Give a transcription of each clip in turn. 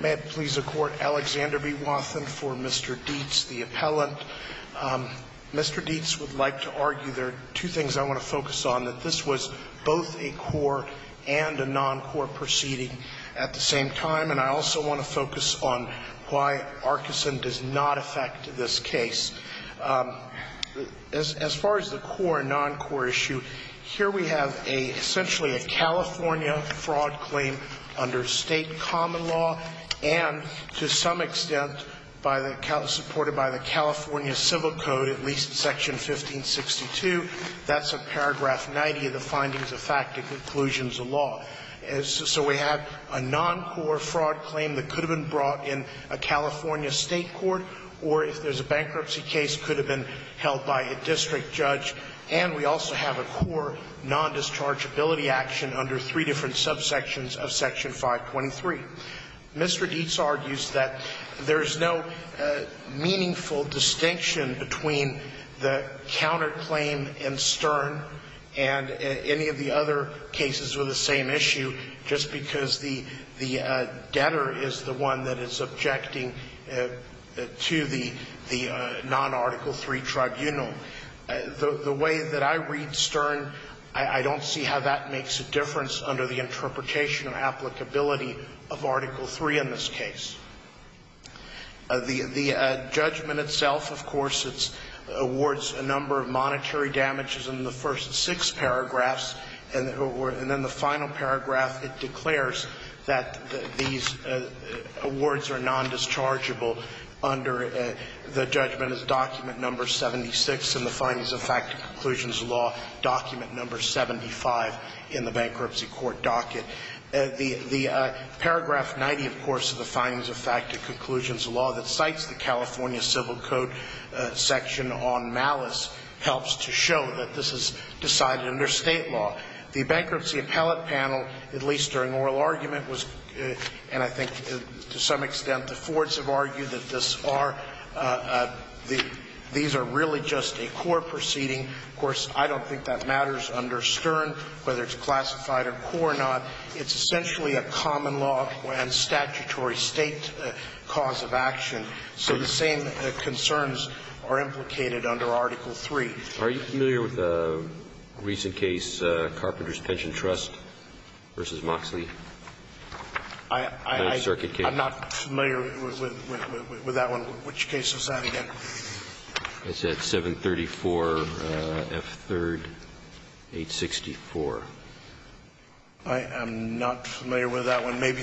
May it please the court, Alexander B. Wathen for Mr. Deitz, the appellant. Mr. Deitz would like to argue there are two things I want to focus on, that this was both a core and a non-core proceeding at the same time, and I also want to focus on why Arkeson does not affect this case. As far as the core and non-core issue, here we have essentially a California fraud claim under state common law, and to some extent supported by the California Civil Code, at least Section 1562. That's a paragraph 90 of the findings of fact and conclusions of law. So we have a non-core fraud claim that could have been brought in a California state court, or if there's a bankruptcy case, could have been held by a district judge. And we also have a core non-dischargeability action under three different subsections of Section 523. Mr. Deitz argues that there is no meaningful distinction between the counterclaim in Stern and any of the other cases with the same issue, just because the debtor is the one that is objecting to the non-Article III tribunal. The way that I read Stern, I don't see how that makes a difference under the interpretation or applicability of Article III in this case. The judgment itself, of course, it awards a number of monetary damages in the first six paragraphs, and then the final paragraph it declares that these awards are non-dischargeable The judgment is document number 76 in the findings of fact and conclusions of law, document number 75 in the bankruptcy court docket. The paragraph 90, of course, of the findings of fact and conclusions of law that cites the California Civil Code section on malice helps to show that this is decided under state law. The bankruptcy appellate panel, at least during oral argument, and I think to some extent the Fords have argued that these are really just a core proceeding. Of course, I don't think that matters under Stern, whether it's classified or core or not. It's essentially a common law and statutory state cause of action. So the same concerns are implicated under Article III. Are you familiar with a recent case, Carpenter's Pension Trust v. Moxley? I'm not familiar with that one. Which case was that again? It's at 734 F. 3rd, 864. I am not familiar with that one. Maybe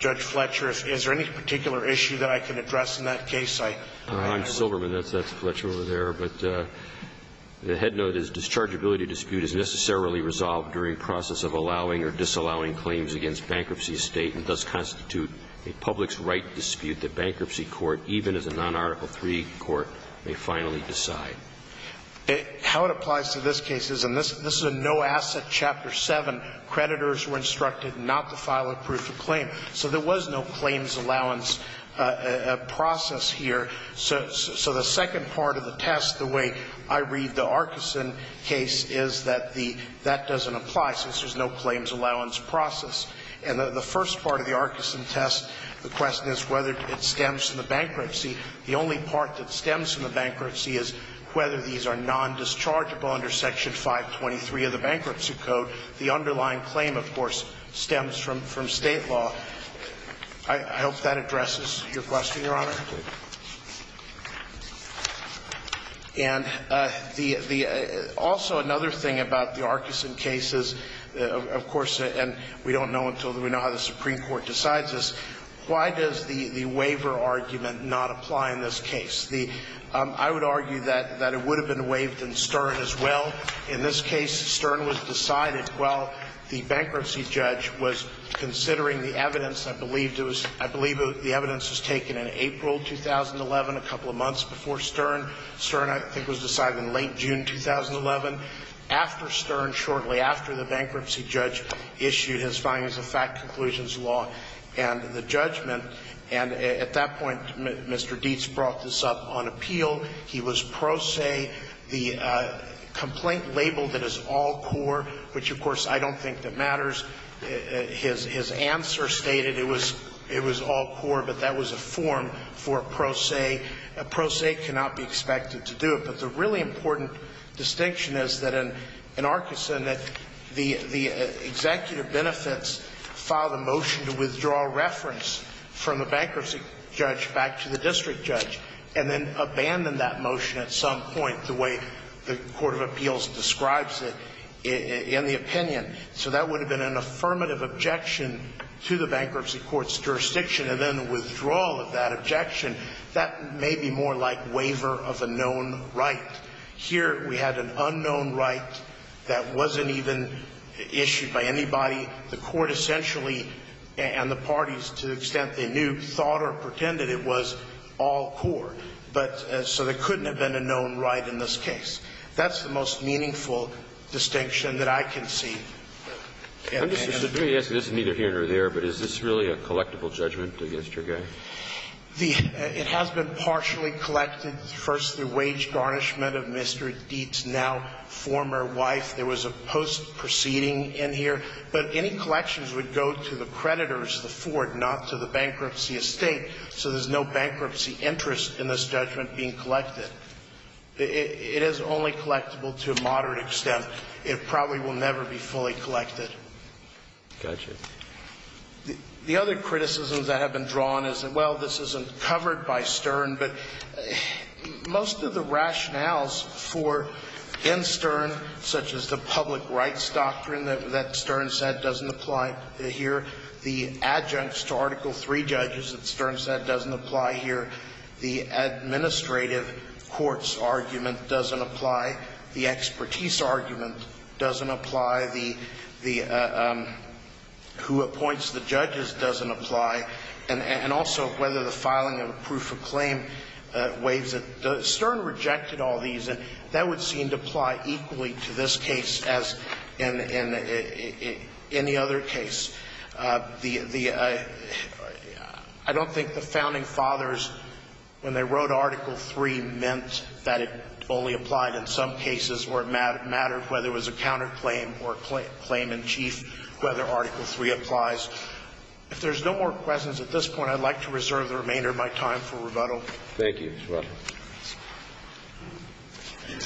Judge Fletcher, is there any particular issue that I can address in that case? I'm Silverman. That's Fletcher over there. But the head note is dischargeability dispute is necessarily resolved during process of allowing or disallowing claims against bankruptcy estate and does constitute a public's right dispute that bankruptcy court, even as a non-Article III court, may finally decide. How it applies to this case is, and this is a no-asset Chapter 7, creditors were instructed not to file a proof of claim. So there was no claims allowance process here. So the second part of the test, the way I read the Arkison case, is that the that doesn't apply since there's no claims allowance process. And the first part of the Arkison test, the question is whether it stems from the bankruptcy. The only part that stems from the bankruptcy is whether these are nondischargeable under Section 523 of the Bankruptcy Code. So the underlying claim, of course, stems from State law. I hope that addresses your question, Your Honor. And the also another thing about the Arkison case is, of course, and we don't know until we know how the Supreme Court decides this, why does the waiver argument not apply in this case? I would argue that it would have been waived in Stern as well. In this case, Stern was decided while the bankruptcy judge was considering the evidence. I believe it was, I believe the evidence was taken in April 2011, a couple of months before Stern. Stern, I think, was decided in late June 2011, after Stern, shortly after the bankruptcy judge issued his findings of fact conclusions law and the judgment. And at that point, Mr. Dietz brought this up on appeal. He was pro se. The complaint labeled it as all core, which, of course, I don't think that matters. His answer stated it was all core, but that was a form for pro se. A pro se cannot be expected to do it. But the really important distinction is that in Arkison that the executive benefits filed a motion to withdraw reference from the bankruptcy judge back to the court. And that motion, at some point, the way the court of appeals describes it in the opinion, so that would have been an affirmative objection to the bankruptcy court's jurisdiction. And then the withdrawal of that objection, that may be more like waiver of a known right. Here, we had an unknown right that wasn't even issued by anybody. The court essentially, and the parties to the extent they knew, thought or pretended it was all core. But so there couldn't have been a known right in this case. That's the most meaningful distinction that I can see. Kennedy. And let me ask you. This is neither here nor there. But is this really a collectible judgment against your guy? The – it has been partially collected, first through wage garnishment of Mr. Dietz, now former wife. There was a post proceeding in here. But any collections would go to the creditors, the Ford, not to the bankruptcy estate. So there's no bankruptcy interest in this judgment being collected. It is only collectible to a moderate extent. It probably will never be fully collected. Gotcha. The other criticisms that have been drawn is, well, this isn't covered by Stern, but most of the rationales for, in Stern, such as the public rights doctrine that Stern said doesn't apply here, the adjuncts to Article III judges that Stern said doesn't apply here, the administrative courts argument doesn't apply, the expertise argument doesn't apply, the – who appoints the judges doesn't apply, and also whether the filing of a proof of claim waives it. Stern rejected all these. And that would seem to apply equally to this case as in any other case. The – I don't think the founding fathers, when they wrote Article III, meant that it only applied in some cases where it mattered, whether it was a counterclaim or a claim in chief, whether Article III applies. If there's no more questions at this point, I'd like to reserve the remainder of my time for rebuttal. Thank you, Mr. Russell. Thank you.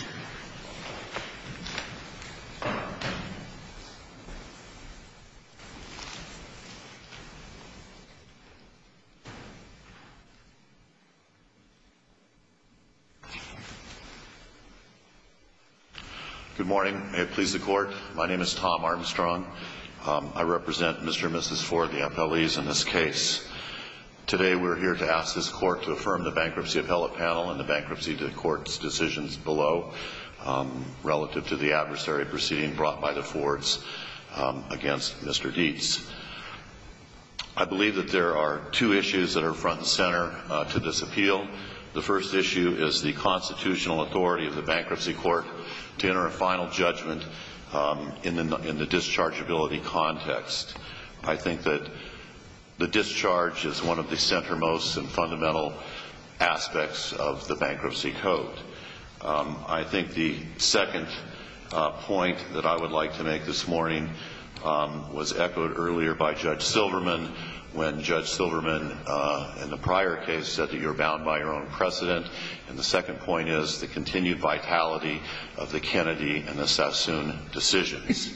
Good morning. May it please the Court. My name is Tom Armstrong. I represent Mr. and Mrs. Ford, the appellees in this case. Today we're here to ask this Court to affirm the bankruptcy appellate panel and the bankruptcy court's decisions below relative to the adversary proceeding brought by the Fords against Mr. Dietz. I believe that there are two issues that are front and center to this appeal. The first issue is the constitutional authority of the bankruptcy court to enter a final judgment in the dischargeability context. I think that the discharge is one of the centermost and fundamental aspects of the bankruptcy code. I think the second point that I would like to make this morning was echoed earlier by Judge Silverman when Judge Silverman, in the prior case, said that you're bound by your own precedent. And the second point is the continued vitality of the Kennedy and the Sassoon decisions.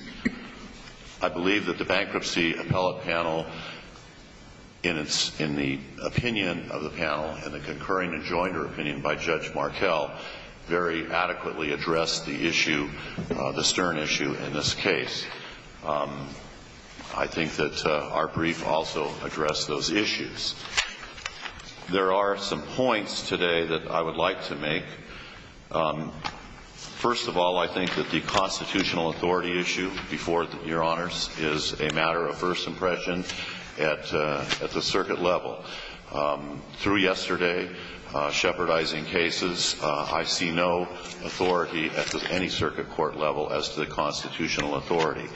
I believe that the bankruptcy appellate panel, in the opinion of the panel and the concurring and jointer opinion by Judge Markell, very adequately addressed the issue, the stern issue in this case. I think that our brief also addressed those issues. There are some points today that I would like to make. First of all, I think that the constitutional authority issue before Your Honors is a matter of first impression at the circuit level. Through yesterday, shepherdizing cases, I see no authority at any circuit court level as to the constitutional authority.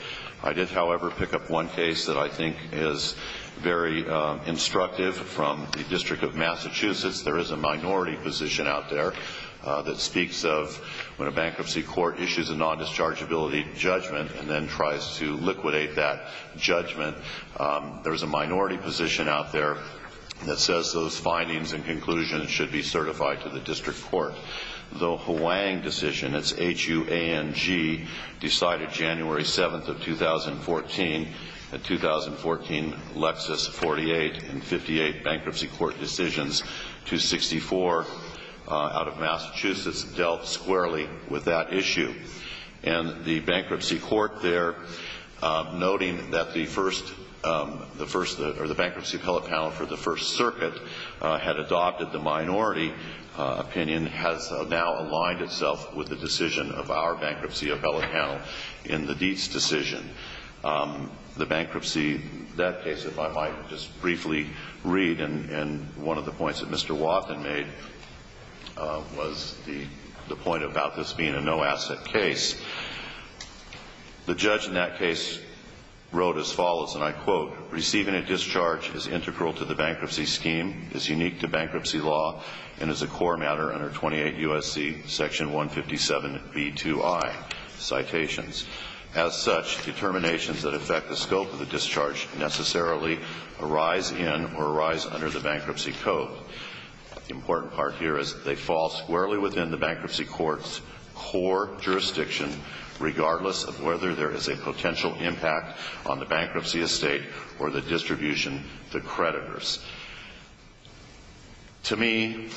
I did, however, pick up one case that I think is very instructive from the District of Massachusetts. There is a minority position out there that speaks of when a bankruptcy court issues a nondischargeability judgment and then tries to liquidate that judgment. There is a minority position out there that says those findings and conclusions should be certified to the district court. The Huang decision, it's H-U-A-N-G, decided January 7th of 2014. In 2014, Lexis 48 and 58 bankruptcy court decisions, 264 out of Massachusetts, dealt squarely with that issue. And the bankruptcy court there, noting that the bankruptcy appellate panel for the First Circuit had adopted the minority opinion, has now aligned itself with the decision of our bankruptcy appellate panel in the Dietz decision. The bankruptcy, that case, if I might just briefly read, and one of the points that Mr. Wathen made was the point about this being a no-asset case. The judge in that case wrote as follows, and I quote, Receiving a discharge is integral to the bankruptcy scheme, is unique to bankruptcy law, and is a core matter under 28 U.S.C. section 157b2i. Citations. As such, determinations that affect the scope of the discharge necessarily arise in or arise under the bankruptcy code. The important part here is that they fall squarely within the bankruptcy court's core jurisdiction, regardless of whether there is a potential impact on the bankruptcy estate or the distribution to creditors. To me,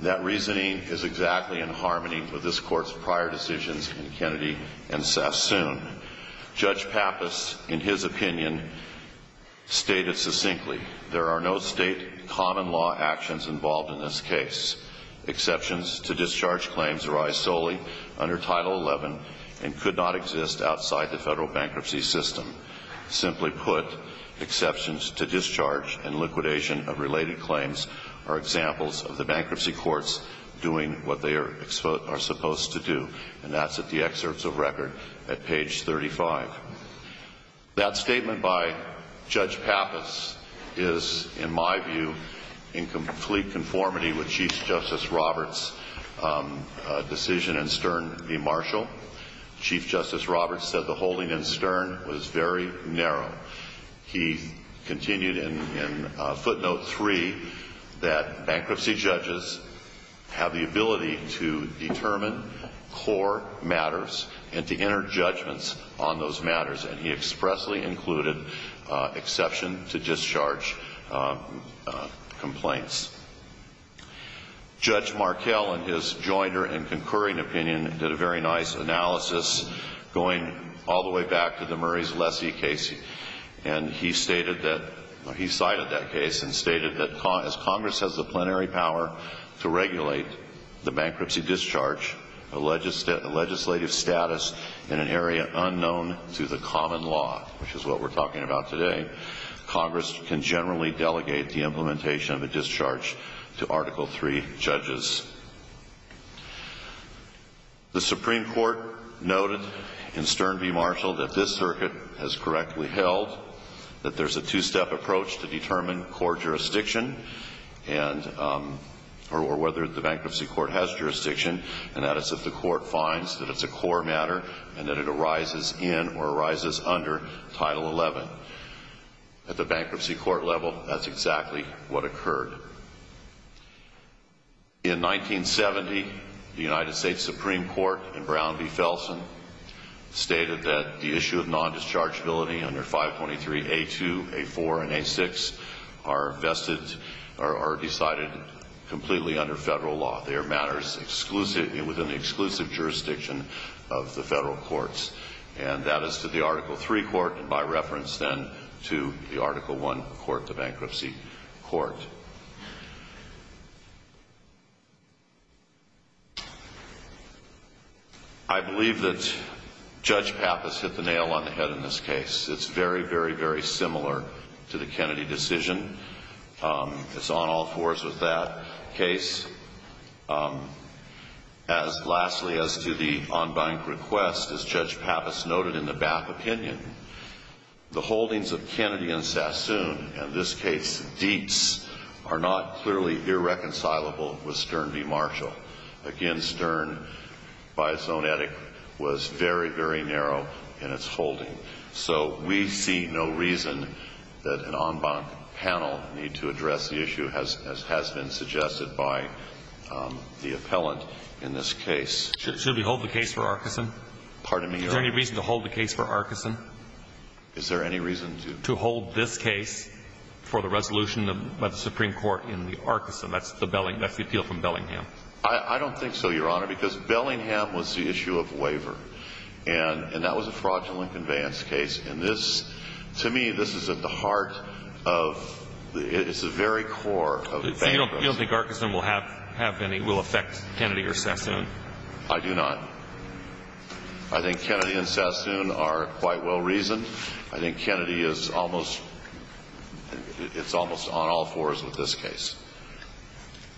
that reasoning is exactly in harmony with this court's prior decisions in Kennedy and Sassoon. Judge Pappas, in his opinion, stated succinctly, There are no state common law actions involved in this case. Exceptions to discharge claims arise solely under Title 11 and could not exist outside the federal bankruptcy system. Simply put, exceptions to discharge and liquidation of related claims are examples of the bankruptcy courts doing what they are supposed to do, and that's at the excerpts of record at page 35. That statement by Judge Pappas is, in my view, in complete conformity with Chief Justice Roberts' decision in Stern v. Marshall. Chief Justice Roberts said the holding in Stern was very narrow. He continued in footnote 3 that bankruptcy judges have the ability to determine core matters and to enter judgments on those matters, and he expressly included exception to discharge complaints. Judge Markell, in his jointer and concurring opinion, did a very nice analysis going all the way back to the Murrays-Lessee case, and he cited that case and stated that as Congress has the plenary power to regulate the bankruptcy discharge, a legislative status in an area unknown to the common law, which is what we're talking about today, Congress can generally delegate the implementation of a discharge to Article III judges. The Supreme Court noted in Stern v. Marshall that this circuit has correctly held that there's a two-step approach to determine core jurisdiction, or whether the bankruptcy court has jurisdiction, and that is if the court finds that it's a core matter and that it arises in or arises under Title XI. At the bankruptcy court level, that's exactly what occurred. In 1970, the United States Supreme Court in Brown v. Felsen stated that the issue of non-dischargeability under 523A2, A4, and A6 are vested or decided completely under federal law. They are matters within the exclusive jurisdiction of the federal courts, and that is to the Article III court, and by reference then to the Article I court, the bankruptcy court. I believe that Judge Pappas hit the nail on the head in this case. It's very, very, very similar to the Kennedy decision. It's on all fours with that case. Lastly, as to the on-bank request, as Judge Pappas noted in the BAP opinion, the holdings of Kennedy and Sassoon, in this case Deeps, are not clearly irreconcilable with Stern v. Marshall. Again, Stern, by its own etiquette, was very, very narrow in its holding. So we see no reason that an on-bank panel need to address the issue, as has been suggested by the appellant in this case. Should we hold the case for Arkeson? Pardon me? Is there any reason to hold the case for Arkeson? Is there any reason to? To hold this case for the resolution by the Supreme Court in the Arkeson. That's the appeal from Bellingham. I don't think so, Your Honor, because Bellingham was the issue of waiver, and that was a fraudulent conveyance case. And this, to me, this is at the heart of the very core of the bank. So you don't think Arkeson will affect Kennedy or Sassoon? I do not. I think Kennedy and Sassoon are quite well reasoned. I think Kennedy is almost on all fours with this case.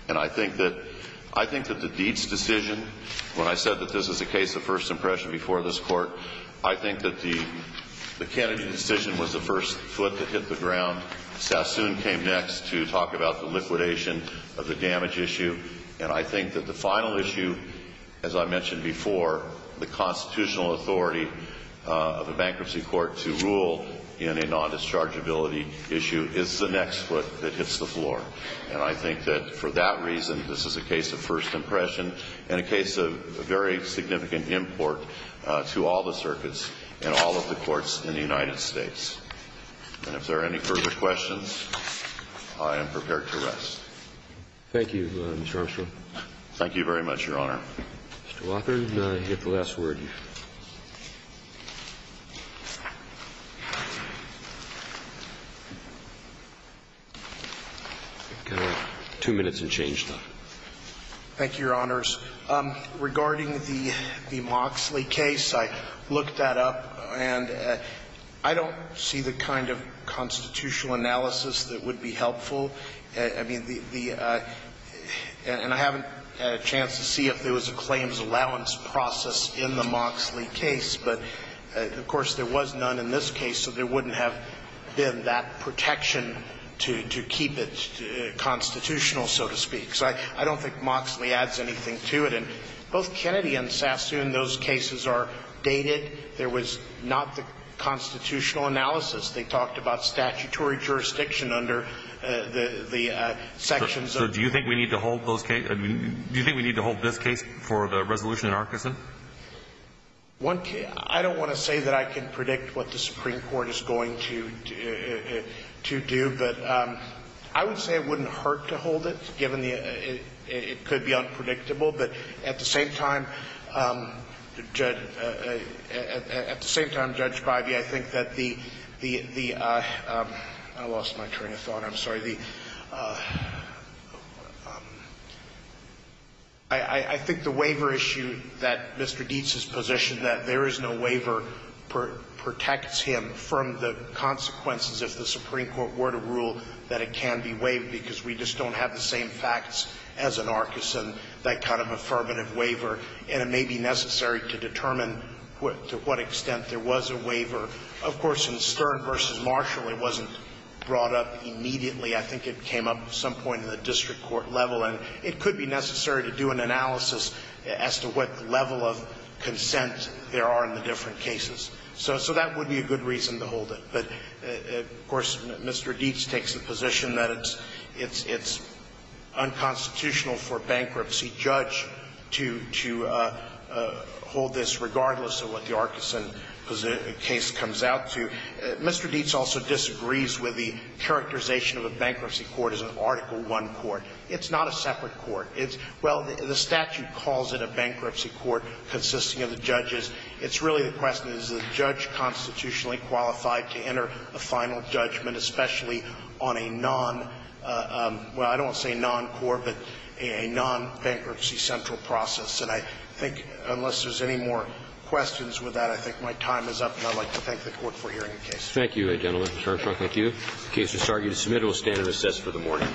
And I think that the Deeps decision, when I said that this is a case of first impression before this Court, I think that the Kennedy decision was the first foot that hit the ground. Sassoon came next to talk about the liquidation of the damage issue. And I think that the final issue, as I mentioned before, the constitutional authority of a bankruptcy court to rule in a non-dischargeability issue is the next foot that hits the floor. And I think that for that reason, this is a case of first impression and a case of a very significant import to all the circuits and all of the courts in the United States. And if there are any further questions, I am prepared to rest. Thank you, Mr. Armstrong. Thank you very much, Your Honor. Mr. Wathen, you have the last word. I've got two minutes and change, though. Thank you, Your Honors. Regarding the Moxley case, I looked that up, and I don't see the kind of constitutional analysis that would be helpful. I mean, the – and I haven't had a chance to see if there was a claims allowance process in the Moxley case. But, of course, there was none in this case, so there wouldn't have been that protection to keep it constitutional, so to speak. So I don't think Moxley adds anything to it. And both Kennedy and Sassoon, those cases are dated. There was not the constitutional analysis. They talked about statutory jurisdiction under the sections of the – So do you think we need to hold those – do you think we need to hold this case for the resolution in Arkansas? One – I don't want to say that I can predict what the Supreme Court is going to do, but I would say it wouldn't hurt to hold it, given the – it could be unpredictable. But at the same time, Judge – at the same time, Judge Bivey, I think that the – I lost my train of thought. I'm sorry. The – I think the waiver issue that Mr. Dietz has positioned, that there is no waiver protects him from the consequences if the Supreme Court were to rule that it can be waived, because we just don't have the same facts as in Arkison, that kind of affirmative waiver, and it may be necessary to determine to what extent there was a waiver. Of course, in Stern v. Marshall, it wasn't brought up immediately. I think it came up at some point in the district court level, and it could be necessary to do an analysis as to what level of consent there are in the different cases. So that would be a good reason to hold it. But, of course, Mr. Dietz takes the position that it's unconstitutional for a bankruptcy judge to hold this regardless of what the Arkison case comes out to. Mr. Dietz also disagrees with the characterization of a bankruptcy court as an Article I court. It's not a separate court. It's – well, the statute calls it a bankruptcy court consisting of the judges. It's really the question, is the judge constitutionally qualified to enter a final judgment, especially on a non – well, I don't want to say non-court, but a non-bankruptcy central process. And I think unless there's any more questions with that, I think my time is up, and I'd like to thank the Court for hearing the case. Roberts. Thank you. The case is argued and submitted. We'll stand and assess for the morning.